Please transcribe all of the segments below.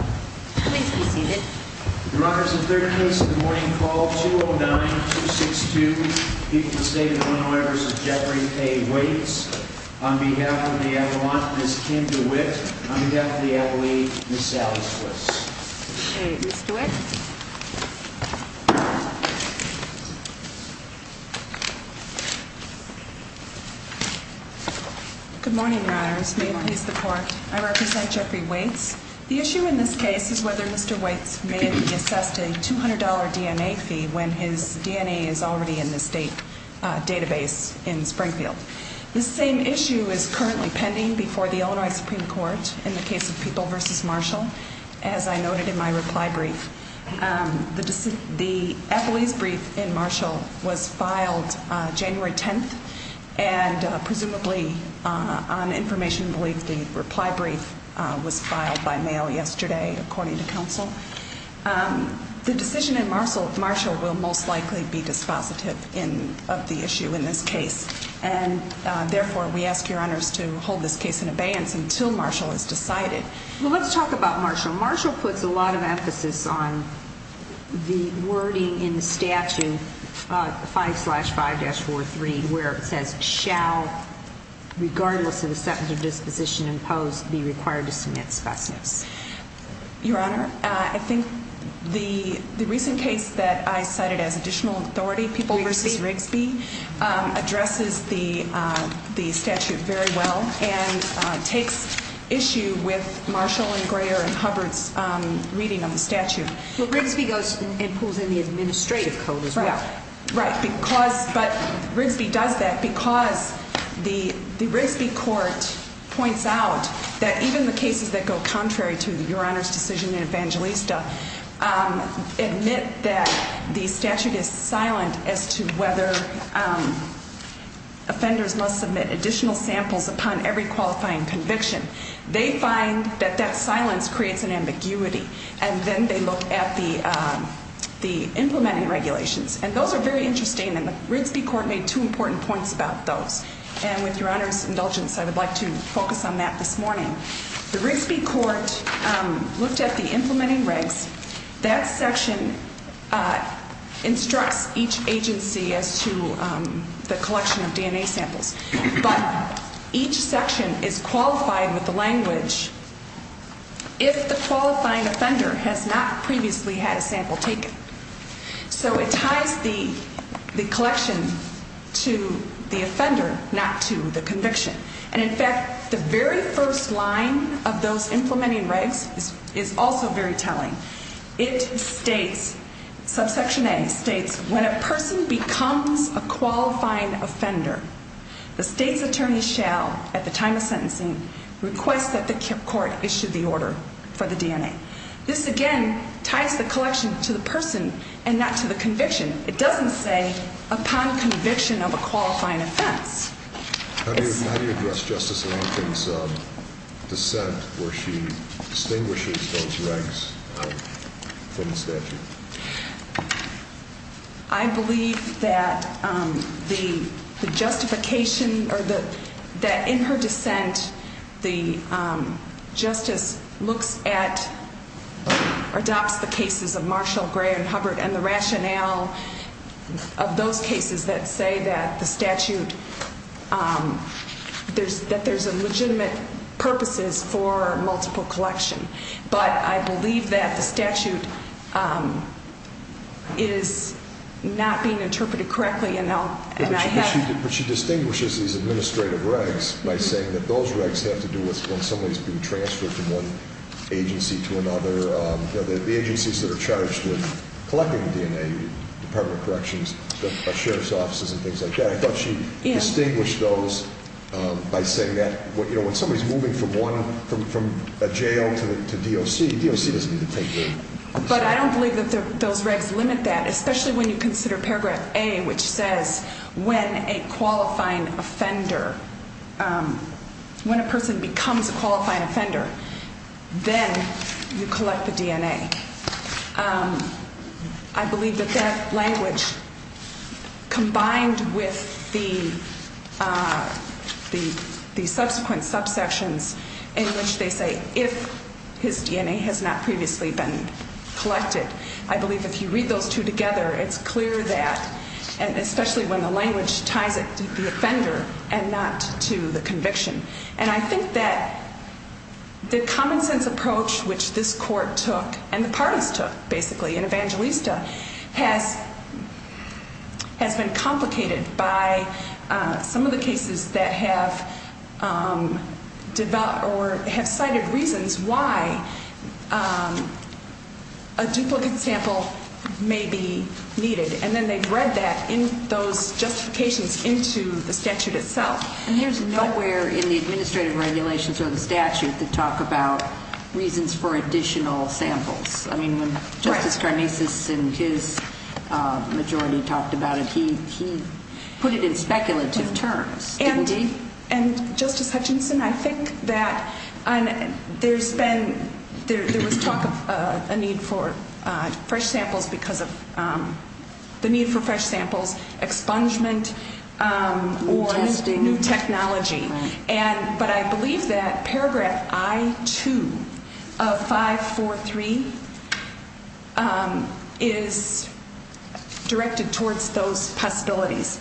On behalf of the Adelaide, Ms. Sally Switz. Good morning, Your Honors. May it please the Court, I represent Jeffrey Waites. The issue in this case is whether Mr. Waites may have been assessed a $200 DNA fee when his DNA is already in the state database in Springfield. This same issue is currently pending before the Illinois Supreme Court in the case of People v. Marshall. As I noted in my reply brief, the appellee's brief in Marshall was filed January 10th. And presumably, on information belief, the reply brief was filed by mail yesterday, according to counsel. The decision in Marshall will most likely be dispositive of the issue in this case. And therefore, we ask Your Honors to hold this case in abeyance until Marshall is decided. Well, let's talk about Marshall. Marshall puts a lot of emphasis on the wording in the statute, 5-5-4-3, where it says, shall, regardless of the sentence of disposition imposed, be required to submit specimens. Your Honor, I think the recent case that I cited as additional authority, People v. Rigsby, addresses the statute very well and takes issue with Marshall and Greer and Hubbard's reading of the statute. Well, Rigsby goes and pulls in the administrative code as well. Right. Right. But Rigsby does that because the Rigsby court points out that even the cases that go contrary to Your Honor's decision in Evangelista admit that the statute is silent as to whether offenders must submit additional samples upon every qualifying conviction. They find that that silence creates an ambiguity. And then they look at the implementing regulations. And those are very interesting, and the Rigsby court made two important points about those. And with Your Honor's indulgence, I would like to focus on that this morning. The Rigsby court looked at the implementing regs. That section instructs each agency as to the collection of DNA samples. But each section is qualified with the language if the qualifying offender has not previously had a sample taken. So it ties the collection to the offender, not to the conviction. And, in fact, the very first line of those implementing regs is also very telling. It states, subsection A states, when a person becomes a qualifying offender, the state's attorney shall, at the time of sentencing, request that the court issue the order for the DNA. This, again, ties the collection to the person and not to the conviction. It doesn't say upon conviction of a qualifying offense. How do you address Justice Lankin's dissent where she distinguishes those regs from the statute? I believe that the justification or that in her dissent, the justice looks at or adopts the cases of Marshall, Gray, and Hubbard and the rationale of those cases that say that the statute, that there's legitimate purposes for multiple collection. But I believe that the statute is not being interpreted correctly. But she distinguishes these administrative regs by saying that those regs have to do with when somebody's been transferred from one agency to another, the agencies that are charged with collecting the DNA, Department of Corrections, Sheriff's offices, and things like that. I thought she distinguished those by saying that when somebody's moving from one, from a jail to DOC, DOC doesn't need to take care of them. But I don't believe that those regs limit that, especially when you consider paragraph A, which says when a qualifying offender, when a person becomes a qualifying offender, then you collect the DNA. I believe that that language combined with the subsequent subsections in which they say if his DNA has not previously been collected, I believe if you read those two together, it's clear that, especially when the language ties it to the offender and not to the conviction. And I think that the common sense approach which this court took and the parties took, basically, in Evangelista, has been complicated by some of the cases that have cited reasons why a duplicate sample may be needed. And then they've read that in those justifications into the statute itself. And there's nowhere in the administrative regulations or the statute that talk about reasons for additional samples. I mean, when Justice Karnasas and his majority talked about it, he put it in speculative terms, didn't he? And, Justice Hutchinson, I think that there's been, there was talk of a need for fresh samples because of the need for fresh samples expungement or new technology. But I believe that paragraph I-2 of 543 is directed towards those possibilities.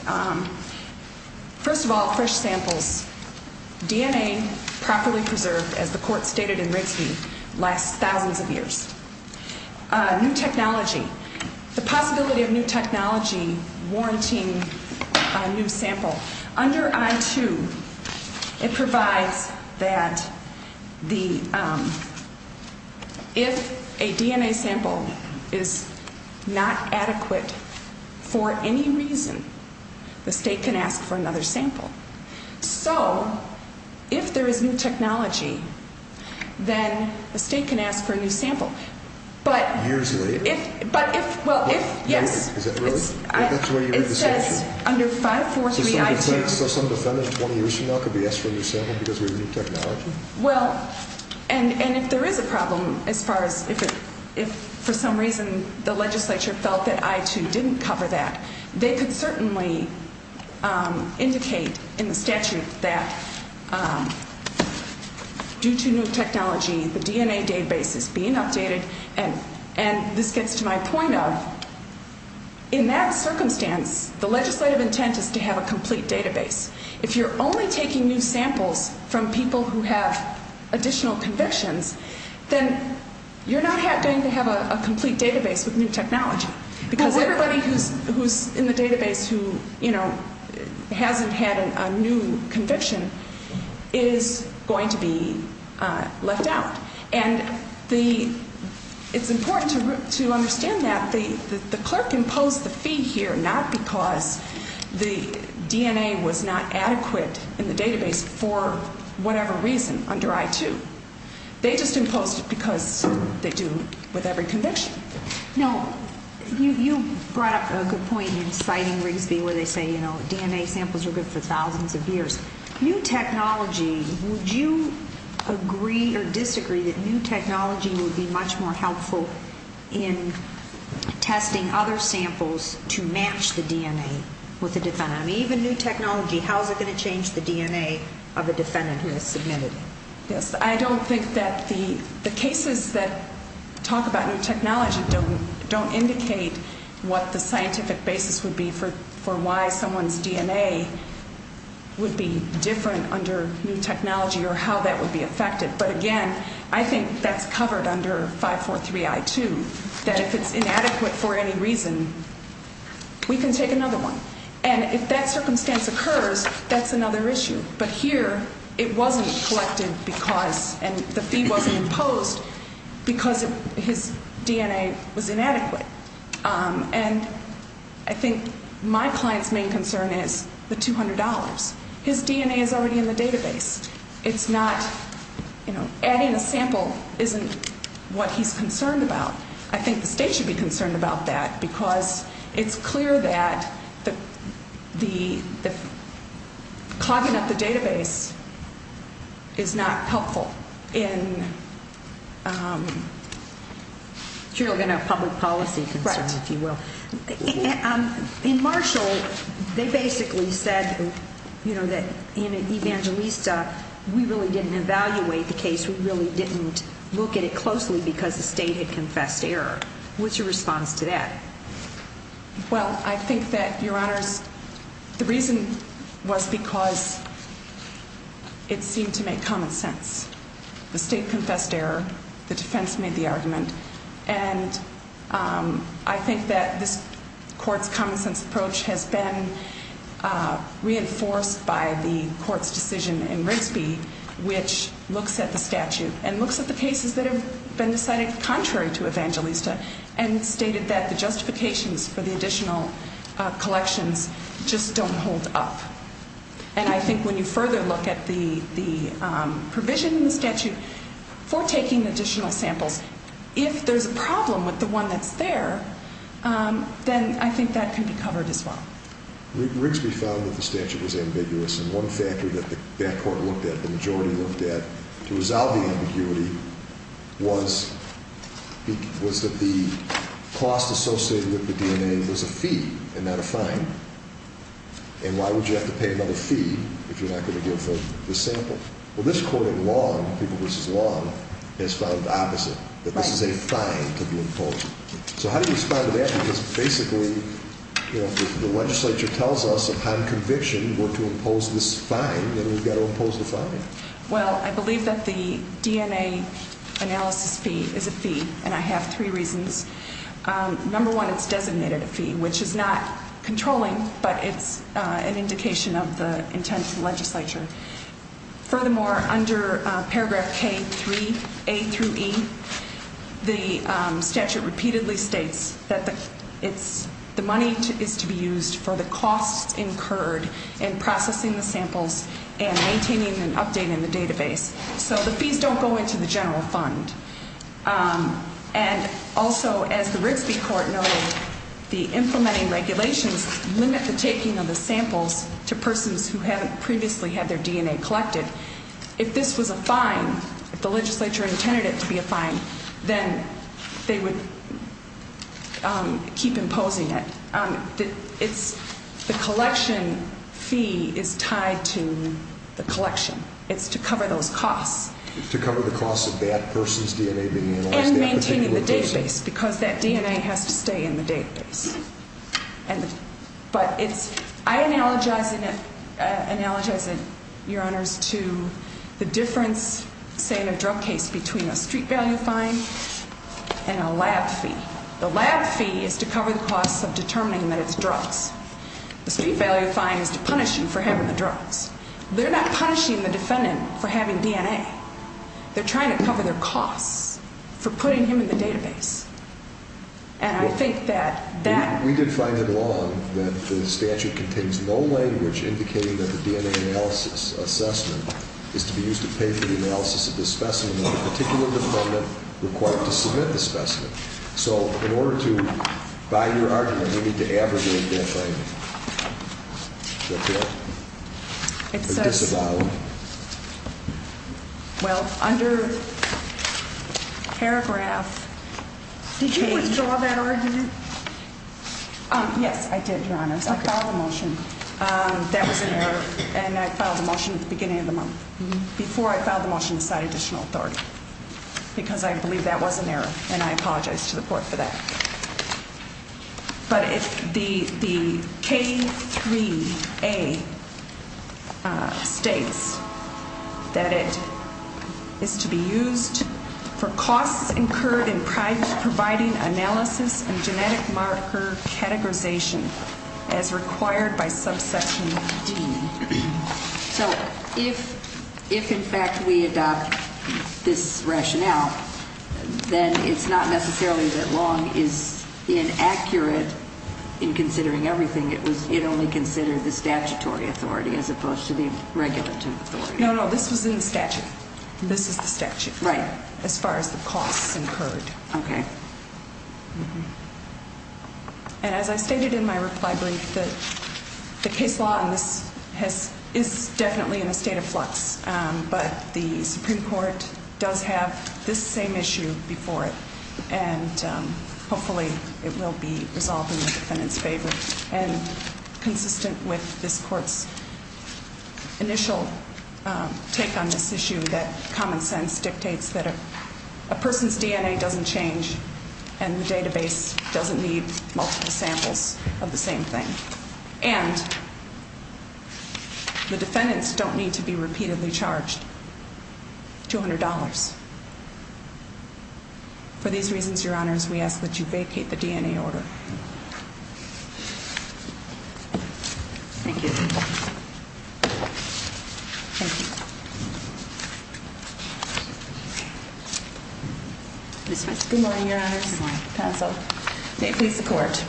First of all, fresh samples, DNA properly preserved, as the court stated in Rigsby, lasts thousands of years. New technology, the possibility of new technology warranting a new sample. Under I-2, it provides that the, if a DNA sample is not adequate for any reason, the state can ask for another sample. So, if there is new technology, then the state can ask for a new sample. Years later. But if, well, if, yes. Is it really? That's where you read the statute? It says under 543 I-2. So some defendant 20 years from now could be asked for a new sample because of new technology? Well, and if there is a problem, as far as if for some reason the legislature felt that I-2 didn't cover that, they could certainly indicate in the statute that due to new technology, the DNA database is being updated. And this gets to my point of, in that circumstance, the legislative intent is to have a complete database. If you're only taking new samples from people who have additional convictions, then you're not going to have a complete database with new technology. Because everybody who's in the database who, you know, hasn't had a new conviction is going to be left out. And the, it's important to understand that. The clerk imposed the fee here not because the DNA was not adequate in the database for whatever reason under I-2. They just imposed it because they do with every conviction. Now, you brought up a good point in citing Rigsby where they say, you know, DNA samples are good for thousands of years. New technology, would you agree or disagree that new technology would be much more helpful in testing other samples to match the DNA with the defendant? I mean, even new technology, how is it going to change the DNA of the defendant who is submitted? Yes, I don't think that the cases that talk about new technology don't indicate what the scientific basis would be for why someone's DNA would be different under new technology or how that would be affected. But again, I think that's covered under 543I-2, that if it's inadequate for any reason, we can take another one. And if that circumstance occurs, that's another issue. But here, it wasn't collected because, and the fee wasn't imposed because his DNA was inadequate. And I think my client's main concern is the $200. His DNA is already in the database. It's not, you know, adding a sample isn't what he's concerned about. I think the state should be concerned about that because it's clear that the clogging up the database is not helpful. You're talking about public policy concerns, if you will. Right. In Marshall, they basically said, you know, that in Evangelista, we really didn't evaluate the case. We really didn't look at it closely because the state had confessed error. What's your response to that? Well, I think that, Your Honors, the reason was because it seemed to make common sense. The state confessed error. The defense made the argument. And I think that this court's common sense approach has been reinforced by the court's decision in Rigsby, which looks at the statute and looks at the cases that have been decided contrary to Evangelista and stated that the justifications for the additional collections just don't hold up. And I think when you further look at the provision in the statute for taking additional samples, if there's a problem with the one that's there, then I think that can be covered as well. Rigsby found that the statute was ambiguous, and one factor that that court looked at, the majority looked at, to resolve the ambiguity was that the cost associated with the DNA was a fee and not a fine. And why would you have to pay another fee if you're not going to give the sample? Well, this court in Long, People v. Long, has found the opposite, that this is a fine to be imposed. So how do you respond to that? Because basically if the legislature tells us upon conviction we're to impose this fine, then we've got to impose the fine. Well, I believe that the DNA analysis fee is a fee, and I have three reasons. Number one, it's designated a fee, which is not controlling, but it's an indication of the intent of the legislature. Furthermore, under paragraph K3A through E, the statute repeatedly states that the money is to be used for the costs incurred in processing the samples and maintaining an update in the database. So the fees don't go into the general fund. And also, as the Rigsby Court noted, the implementing regulations limit the taking of the samples to persons who haven't previously had their DNA collected. If this was a fine, if the legislature intended it to be a fine, then they would keep imposing it. The collection fee is tied to the collection. It's to cover those costs. To cover the costs of that person's DNA being analyzed. And maintaining the database, because that DNA has to stay in the database. But I analogize it, Your Honors, to the difference, say, in a drug case between a street value fine and a lab fee. The lab fee is to cover the costs of determining that it's drugs. The street value fine is to punish them for having the drugs. They're not punishing the defendant for having DNA. They're trying to cover their costs for putting him in the database. And I think that that... We did find it wrong that the statute contains no language indicating that the DNA analysis assessment is to be used to pay for the analysis of the specimen and the particular defendant required to submit the specimen. So in order to buy your argument, we need to abrogate that finding. What's that? It says... Well, under paragraph... Did you withdraw that argument? Yes, I did, Your Honors. I filed a motion. That was an error. And I filed a motion at the beginning of the month, before I filed the motion to cite additional authority. Because I believe that was an error. And I apologize to the court for that. But the K3A states that it is to be used for costs incurred in providing analysis and genetic marker categorization as required by subsection D. So if, in fact, we adopt this rationale, then it's not necessarily that Long is inaccurate in considering everything. It only considered the statutory authority as opposed to the regulative authority. No, no, this was in the statute. This is the statute. Right. As far as the costs incurred. Okay. And as I stated in my reply brief, the case law on this is definitely in a state of flux. But the Supreme Court does have this same issue before it. And hopefully it will be resolved in the defendant's favor. And consistent with this court's initial take on this issue, that common sense dictates that a person's DNA doesn't change. And the database doesn't need multiple samples of the same thing. And the defendants don't need to be repeatedly charged $200. For these reasons, Your Honors, we ask that you vacate the DNA order. Thank you. Thank you. Good morning, Your Honors. Good morning. May it please the Court.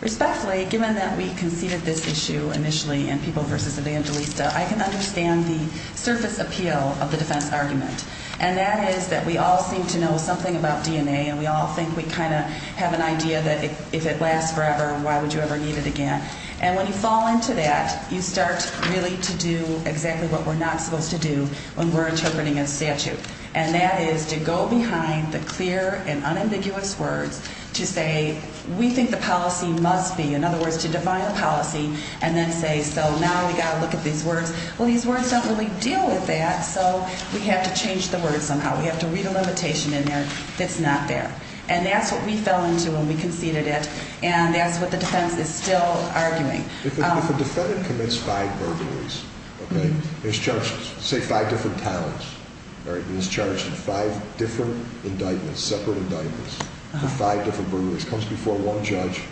Respectfully, given that we conceded this issue initially in People v. Evangelista, I can understand the surface appeal of the defense argument. And that is that we all seem to know something about DNA, and we all think we kind of have an idea that if it lasts forever, why would you ever need it again? And when you fall into that, you start really to do exactly what we're not supposed to do when we're interpreting a statute. And that is to go behind the clear and unambiguous words to say, we think the policy must be. In other words, to define a policy and then say, so now we've got to look at these words. Well, these words don't really deal with that. So we have to change the words somehow. We have to read a limitation in there that's not there. And that's what we fell into when we conceded it. And that's what the defense is still arguing. If a defendant commits five burglaries, okay, and is charged, say, five different times, all right, and is charged with five different indictments, separate indictments, with five different burglaries, comes before one judge,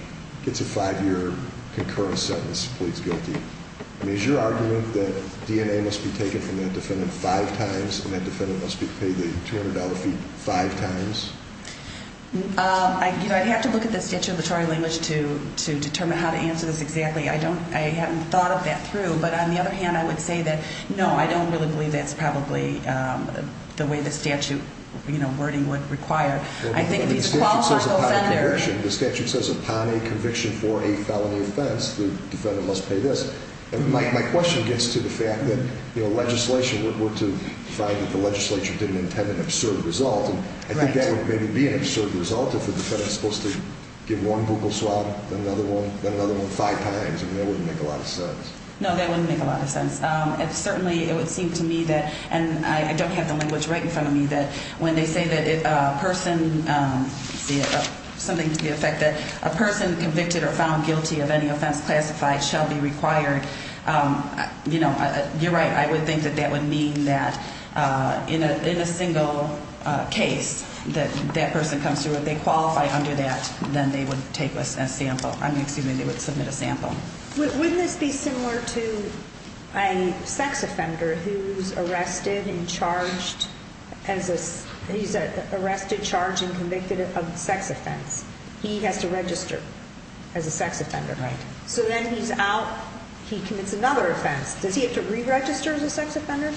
gets a five-year concurrent sentence, pleads guilty, I mean, is your argument that DNA must be taken from that defendant five times and that defendant must be paid the $200 fee five times? I'd have to look at the statutory language to determine how to answer this exactly. I haven't thought of that through. But on the other hand, I would say that, no, I don't really believe that's probably the way the statute wording would require. Well, the statute says upon conviction, the statute says upon a conviction for a felony offense, the defendant must pay this. And my question gets to the fact that, you know, legislation were to find that the legislature didn't intend an absurd result. And I think that would maybe be an absurd result if the defendant is supposed to give one bugle swab, then another one, then another one five times. I mean, that wouldn't make a lot of sense. No, that wouldn't make a lot of sense. Certainly, it would seem to me that, and I don't have the language right in front of me, that when they say that a person, let's see, something to the effect that a person convicted or found guilty of any offense classified shall be required, you know, you're right. I would think that that would mean that in a single case that that person comes through, if they qualify under that, then they would take a sample. I mean, excuse me, they would submit a sample. Wouldn't this be similar to a sex offender who's arrested and charged as a, he's arrested, charged, and convicted of a sex offense. He has to register as a sex offender. Right. So then he's out, he commits another offense. Does he have to re-register as a sex offender?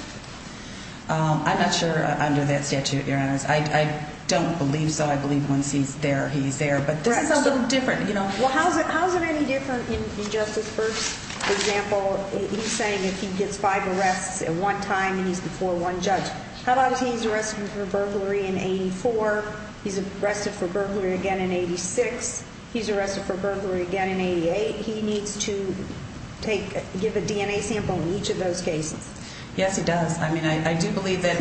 I'm not sure under that statute, Your Honors. I don't believe so. I believe once he's there, he's there. But this is a little different, you know. Well, how is it any different in Justice Birx's example? He's saying if he gets five arrests at one time and he's before one judge. How about if he's arrested for burglary in 84? He's arrested for burglary again in 86. He's arrested for burglary again in 88. He needs to take, give a DNA sample in each of those cases. Yes, he does. I mean, I do believe that.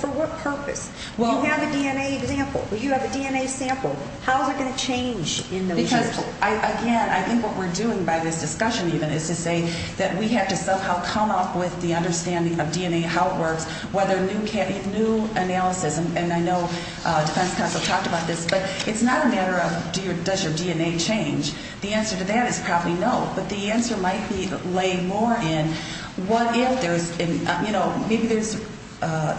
For what purpose? You have a DNA example. You have a DNA sample. How is it going to change in those years? Because, again, I think what we're doing by this discussion, even, is to say that we have to somehow come up with the understanding of DNA, how it works, whether new analysis. And I know defense counsel talked about this. But it's not a matter of does your DNA change. The answer to that is probably no. But the answer might be laying more in what if there's, you know, maybe there's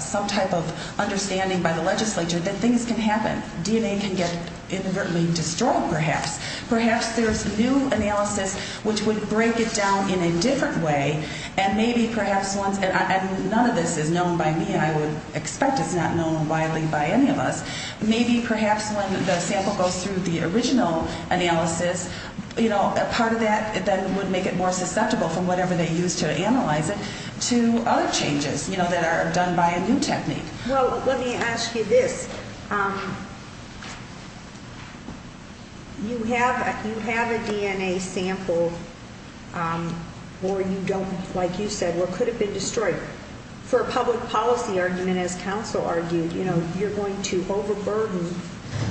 some type of understanding by the legislature that things can happen. DNA can get inadvertently destroyed, perhaps. Perhaps there's new analysis which would break it down in a different way. And maybe perhaps once, and none of this is known by me, and I would expect it's not known widely by any of us, maybe perhaps when the sample goes through the original analysis, you know, a part of that then would make it more susceptible from whatever they used to analyze it to other changes, you know, that are done by a new technique. Well, let me ask you this. You have a DNA sample or you don't, like you said, or could have been destroyed. For a public policy argument, as counsel argued, you know, you're going to overburden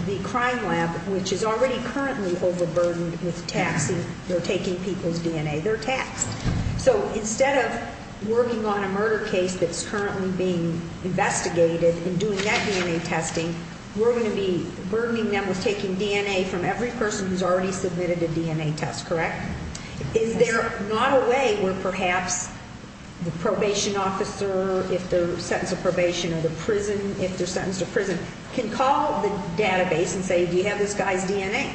the crime lab, which is already currently overburdened with taxing or taking people's DNA. They're taxed. So instead of working on a murder case that's currently being investigated and doing that DNA testing, we're going to be burdening them with taking DNA from every person who's already submitted a DNA test, correct? Is there not a way where perhaps the probation officer, if they're sentenced to probation, or the prison, if they're sentenced to prison, can call the database and say, do you have this guy's DNA?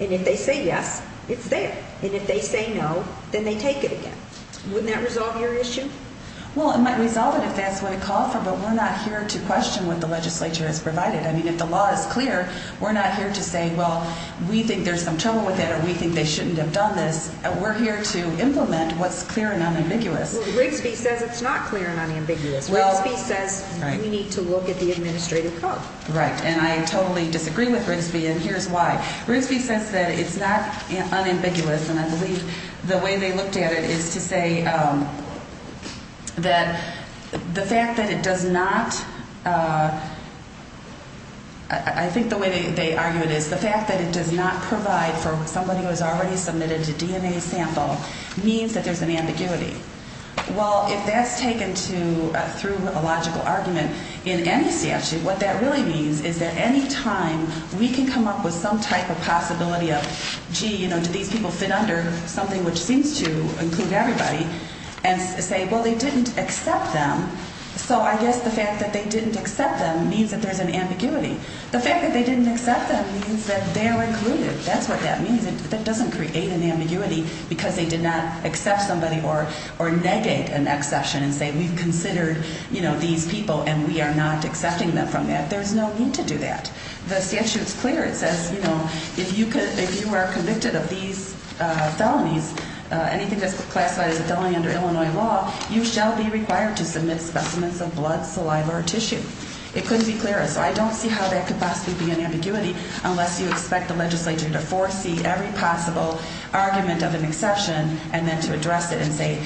And if they say yes, it's there. And if they say no, then they take it again. Wouldn't that resolve your issue? Well, it might resolve it if that's what it calls for, but we're not here to question what the legislature has provided. I mean, if the law is clear, we're not here to say, well, we think there's some trouble with that or we think they shouldn't have done this. We're here to implement what's clear and unambiguous. Well, Rigsby says it's not clear and unambiguous. Rigsby says we need to look at the administrative code. Right, and I totally disagree with Rigsby, and here's why. Rigsby says that it's not unambiguous, and I believe the way they looked at it is to say that the fact that it does not, I think the way they argue it is the fact that it does not provide for somebody who has already submitted a DNA sample means that there's an ambiguity. Well, if that's taken through a logical argument in any statute, what that really means is that any time we can come up with some type of possibility of, gee, do these people fit under something which seems to include everybody, and say, well, they didn't accept them, so I guess the fact that they didn't accept them means that there's an ambiguity. The fact that they didn't accept them means that they're included. That's what that means. That doesn't create an ambiguity because they did not accept somebody or negate an exception and say we've considered these people and we are not accepting them from that. There's no need to do that. The statute's clear. It says if you are convicted of these felonies, anything that's classified as a felony under Illinois law, you shall be required to submit specimens of blood, saliva, or tissue. It couldn't be clearer, so I don't see how that could possibly be an ambiguity unless you expect the legislature to foresee every possible argument of an exception and then to address it and say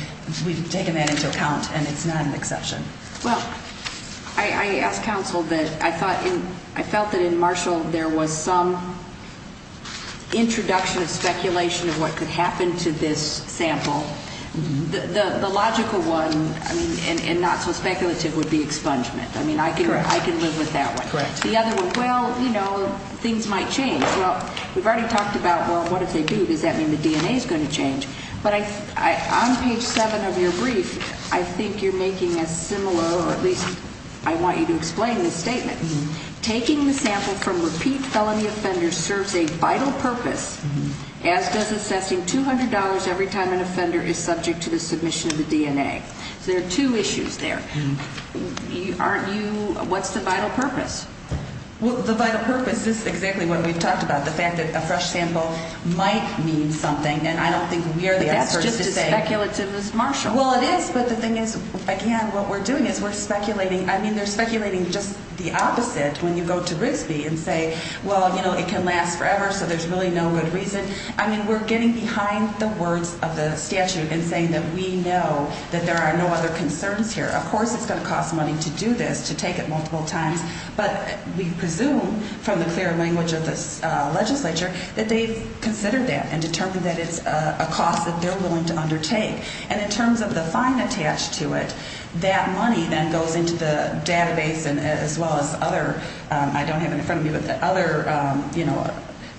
we've taken that into account and it's not an exception. Well, I asked counsel that I felt that in Marshall there was some introduction of speculation of what could happen to this sample. The logical one, and not so speculative, would be expungement. I mean, I can live with that one. Correct. The other one, well, you know, things might change. Well, we've already talked about, well, what if they do? Does that mean the DNA is going to change? But on page 7 of your brief, I think you're making a similar, or at least I want you to explain this statement. Taking the sample from repeat felony offenders serves a vital purpose, as does assessing $200 every time an offender is subject to the submission of the DNA. So there are two issues there. Aren't you, what's the vital purpose? Well, the vital purpose, this is exactly what we've talked about, the fact that a fresh sample might mean something, and I don't think we're the experts to say. That's just as speculative as Marshall. Well, it is, but the thing is, again, what we're doing is we're speculating. I mean, they're speculating just the opposite when you go to Grisby and say, well, you know, it can last forever, so there's really no good reason. I mean, we're getting behind the words of the statute and saying that we know that there are no other concerns here. Of course it's going to cost money to do this, to take it multiple times, but we presume from the clear language of the legislature that they've considered that and determined that it's a cost that they're willing to undertake. And in terms of the fine attached to it, that money then goes into the database as well as other, I don't have it in front of me, but the other, you know,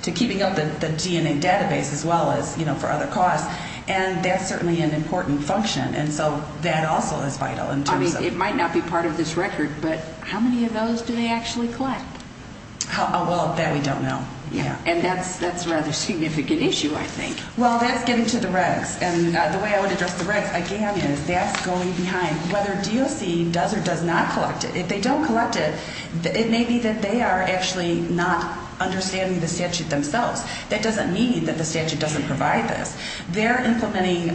to keeping up the DNA database as well as, you know, for other costs. And that's certainly an important function, and so that also is vital. I mean, it might not be part of this record, but how many of those do they actually collect? Well, that we don't know. And that's a rather significant issue, I think. Well, that's getting to the regs. And the way I would address the regs, again, is that's going behind. Whether DOC does or does not collect it, if they don't collect it, it may be that they are actually not understanding the statute themselves. That doesn't mean that the statute doesn't provide this. They're implementing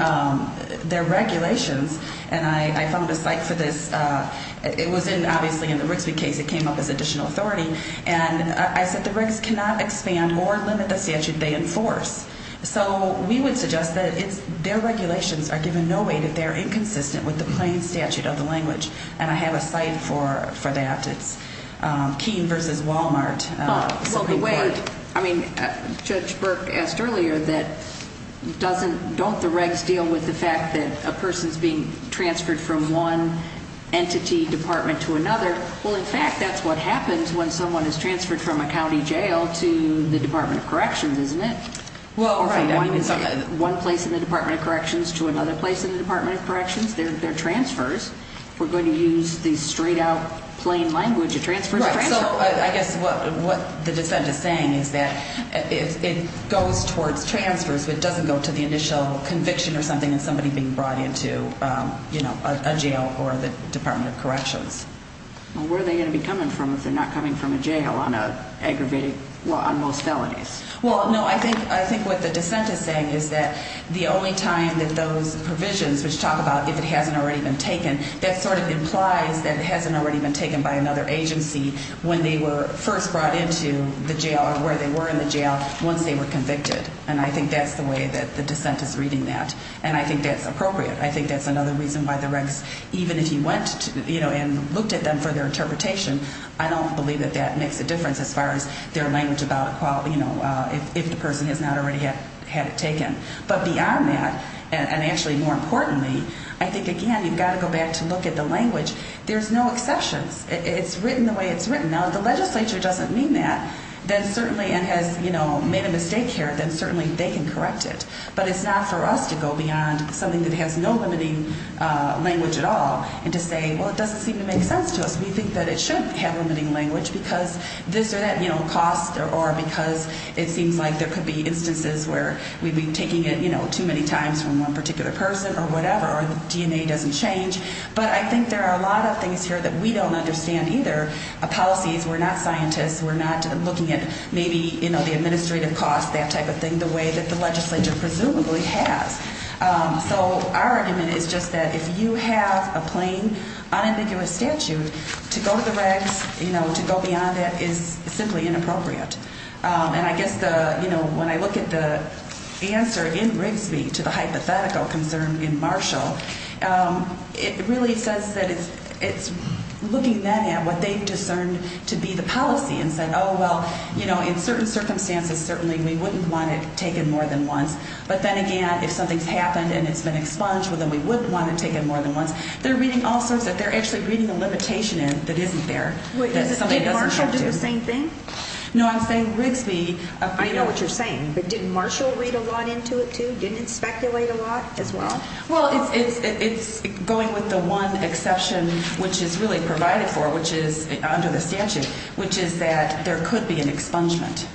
their regulations, and I found a site for this. It was obviously in the Grisby case. It came up as additional authority. And I said the regs cannot expand or limit the statute they enforce. So we would suggest that their regulations are given no weight if they're inconsistent with the plain statute of the language. And I have a site for that. It's Keene v. Walmart. Well, the way, I mean, Judge Burke asked earlier that doesn't, don't the regs deal with the fact that a person is being transferred from one entity department to another? Well, in fact, that's what happens when someone is transferred from a county jail to the Department of Corrections, isn't it? Well, right. Or from one place in the Department of Corrections to another place in the Department of Corrections. They're transfers. If we're going to use the straight-out, plain language, a transfer is a transfer. Right. So I guess what the dissent is saying is that it goes towards transfers, but it doesn't go to the initial conviction or something and somebody being brought into, you know, a jail or the Department of Corrections. Well, where are they going to be coming from if they're not coming from a jail on aggravated, well, on most felonies? Well, no, I think what the dissent is saying is that the only time that those provisions, which talk about if it hasn't already been taken, that sort of implies that it hasn't already been taken by another agency when they were first brought into the jail or where they were in the jail once they were convicted. And I think that's the way that the dissent is reading that. And I think that's appropriate. I think that's another reason why the regs, even if you went, you know, and looked at them for their interpretation, I don't believe that that makes a difference as far as their language about, you know, if the person has not already had it taken. But beyond that, and actually more importantly, I think, again, you've got to go back to look at the language. There's no exceptions. It's written the way it's written. Now, if the legislature doesn't mean that, then certainly and has, you know, made a mistake here, then certainly they can correct it. But it's not for us to go beyond something that has no limiting language at all and to say, well, it doesn't seem to make sense to us. We think that it should have limiting language because this or that, you know, costs or because it seems like there could be instances where we've been taking it, you know, too many times from one particular person or whatever or the DNA doesn't change. But I think there are a lot of things here that we don't understand either, policies. We're not scientists. We're not looking at maybe, you know, the administrative costs, that type of thing, the way that the legislature presumably has. So our argument is just that if you have a plain, unambiguous statute, to go to the regs, you know, to go beyond that is simply inappropriate. And I guess the, you know, when I look at the answer in Rigsby to the hypothetical concern in Marshall, it really says that it's looking then at what they've discerned to be the policy and said, oh, well, you know, in certain circumstances, certainly we wouldn't want it taken more than once. But then again, if something's happened and it's been expunged, well, then we would want to take it more than once. They're reading all sorts that they're actually reading a limitation in that isn't there. Did Marshall do the same thing? No, I'm saying Rigsby. I know what you're saying. But didn't Marshall read a lot into it, too? Didn't it speculate a lot as well? Well, it's going with the one exception which is really provided for, which is under the statute, which is that there could be an expungement.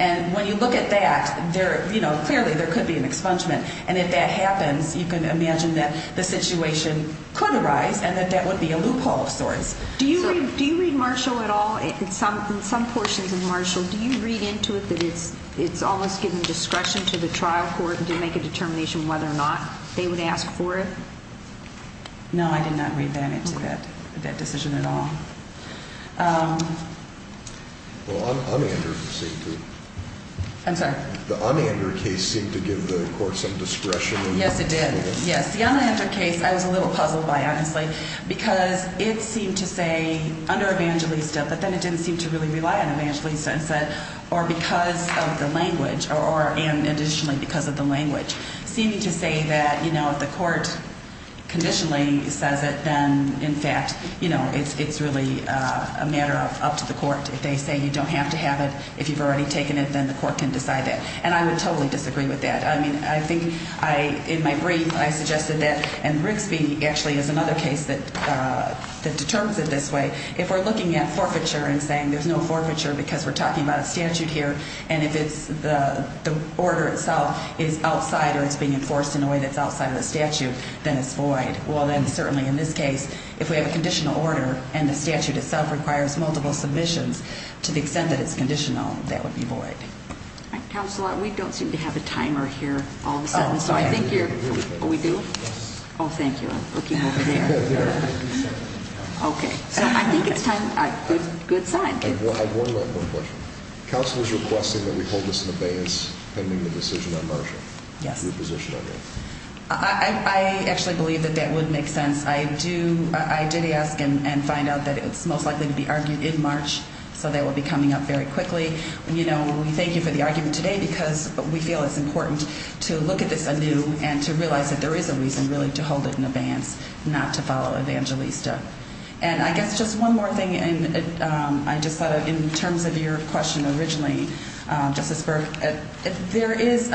And when you look at that, there, you know, clearly there could be an expungement. And if that happens, you can imagine that the situation could arise and that that would be a loophole of sorts. Do you read Marshall at all? In some portions of Marshall, do you read into it that it's almost given discretion to the trial court to make a determination whether or not they would ask for it? No, I did not read that into that decision at all. Well, the Unander case seemed to give the court some discretion. Yes, it did. Yes, the Unander case I was a little puzzled by, honestly, because it seemed to say under evangelista, but then it didn't seem to really rely on evangelista and said or because of the language seemed to say that, you know, if the court conditionally says it, then, in fact, you know, it's really a matter up to the court. If they say you don't have to have it, if you've already taken it, then the court can decide that. And I would totally disagree with that. I mean, I think in my brief I suggested that, and Rigsby actually is another case that determines it this way, if we're looking at forfeiture and saying there's no forfeiture because we're talking about a statute here and if it's the order itself is outside or it's being enforced in a way that's outside of the statute, then it's void. Well, then certainly in this case, if we have a conditional order and the statute itself requires multiple submissions, to the extent that it's conditional, that would be void. Counselor, we don't seem to have a timer here all of a sudden, so I think you're... Are we doing it? Yes. Oh, thank you. I'm looking over there. Okay, so I think it's time. Good sign. I have one more question. Counsel is requesting that we hold this in abeyance pending the decision on Marsha. Yes. Your position on that? I actually believe that that would make sense. I did ask and find out that it's most likely to be argued in March, so that will be coming up very quickly. You know, we thank you for the argument today because we feel it's important to look at this anew and to realize that there is a reason really to hold it in abeyance, not to follow Evangelista. And I guess just one more thing, and I just thought in terms of your question originally, Justice Burke, there is,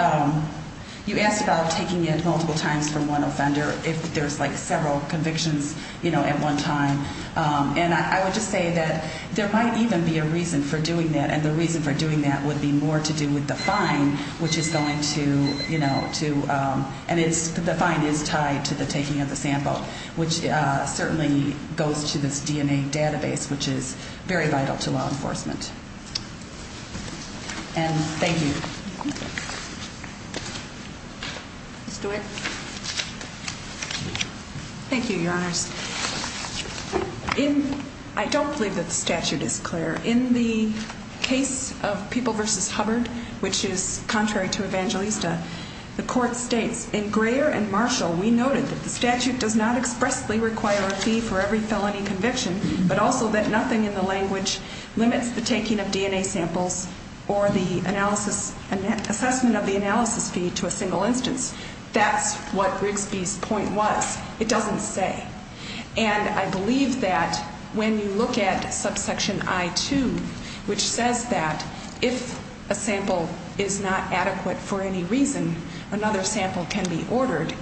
you asked about taking it multiple times for one offender if there's like several convictions, you know, at one time. And I would just say that there might even be a reason for doing that, and the reason for doing that would be more to do with the fine, which is going to, you know, to, and the fine is tied to the taking of the sample, which certainly goes to this DNA database, which is very vital to law enforcement. And thank you. Ms. DeWitt. Thank you, Your Honors. I don't believe that the statute is clear. In the case of People v. Hubbard, which is contrary to Evangelista, the court states, in Greer and Marshall, we noted that the statute does not expressly require a fee for every felony conviction, but also that nothing in the language limits the taking of DNA samples or the analysis, assessment of the analysis fee to a single instance. That's what Rigsby's point was. It doesn't say. And I believe that when you look at subsection I-2, which says that if a sample is not adequate for any reason, another sample can be ordered,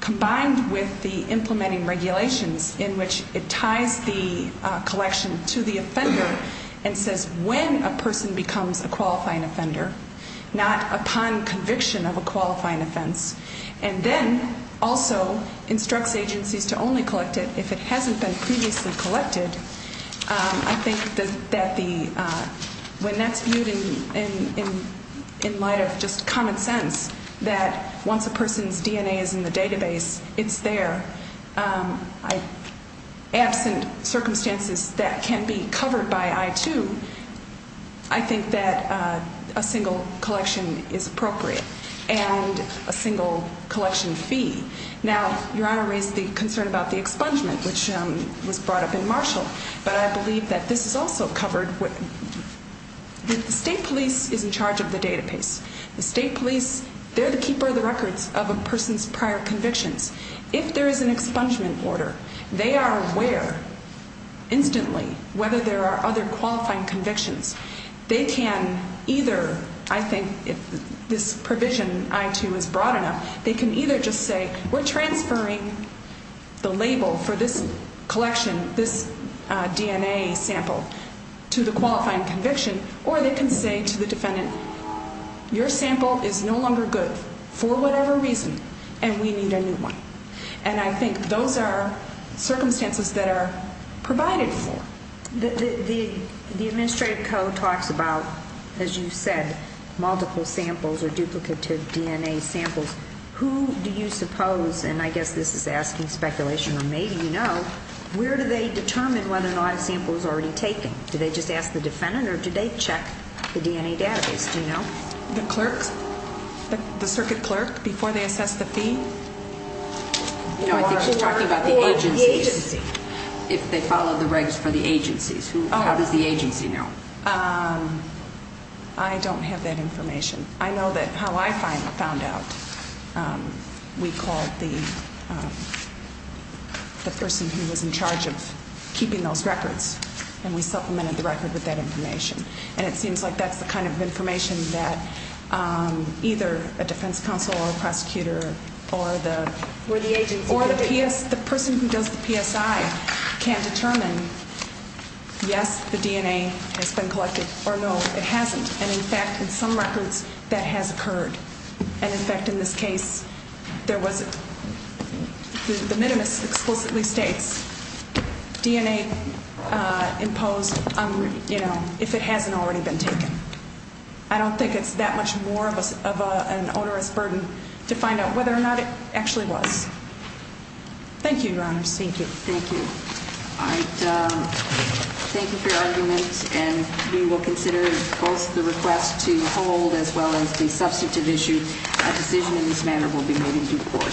combined with the implementing regulations in which it ties the collection to the offender and says when a person becomes a qualifying offender, not upon conviction of a qualifying offense, and then also instructs agencies to only collect it if it hasn't been previously collected, I think that when that's viewed in light of just common sense, that once a person's DNA is in the database, it's there. Absent circumstances that can be covered by I-2, I think that a single collection is appropriate and a single collection fee. Now, Your Honor raised the concern about the expungement, which was brought up in Marshall, but I believe that this is also covered. The state police is in charge of the database. The state police, they're the keeper of the records of a person's prior convictions. If there is an expungement order, they are aware instantly whether there are other qualifying convictions. They can either, I think if this provision, I-2, is broad enough, they can either just say we're transferring the label for this collection, this DNA sample, to the qualifying conviction, or they can say to the defendant, your sample is no longer good for whatever reason and we need a new one. And I think those are circumstances that are provided for. The administrative code talks about, as you said, multiple samples or duplicative DNA samples. Who do you suppose, and I guess this is asking speculation, or maybe you know, where do they determine whether or not a sample is already taken? Do they just ask the defendant or do they check the DNA database? Do you know? The clerk, the circuit clerk, before they assess the fee. No, I think she's talking about the agencies, if they follow the regs for the agencies. How does the agency know? I don't have that information. I know that how I found out, we called the person who was in charge of keeping those records, and we supplemented the record with that information. And it seems like that's the kind of information that either a defense counsel or a prosecutor or the person who does the PSI can determine, yes, the DNA has been collected, or no, it hasn't. And in fact, in some records, that has occurred. And in fact, in this case, the minimus explicitly states, DNA imposed if it hasn't already been taken. I don't think it's that much more of an onerous burden to find out whether or not it actually was. Thank you, Your Honors. Thank you. Thank you. All right. Thank you for your argument, and we will consider both the request to hold as well as the substantive issue. A decision in this manner will be made in due course.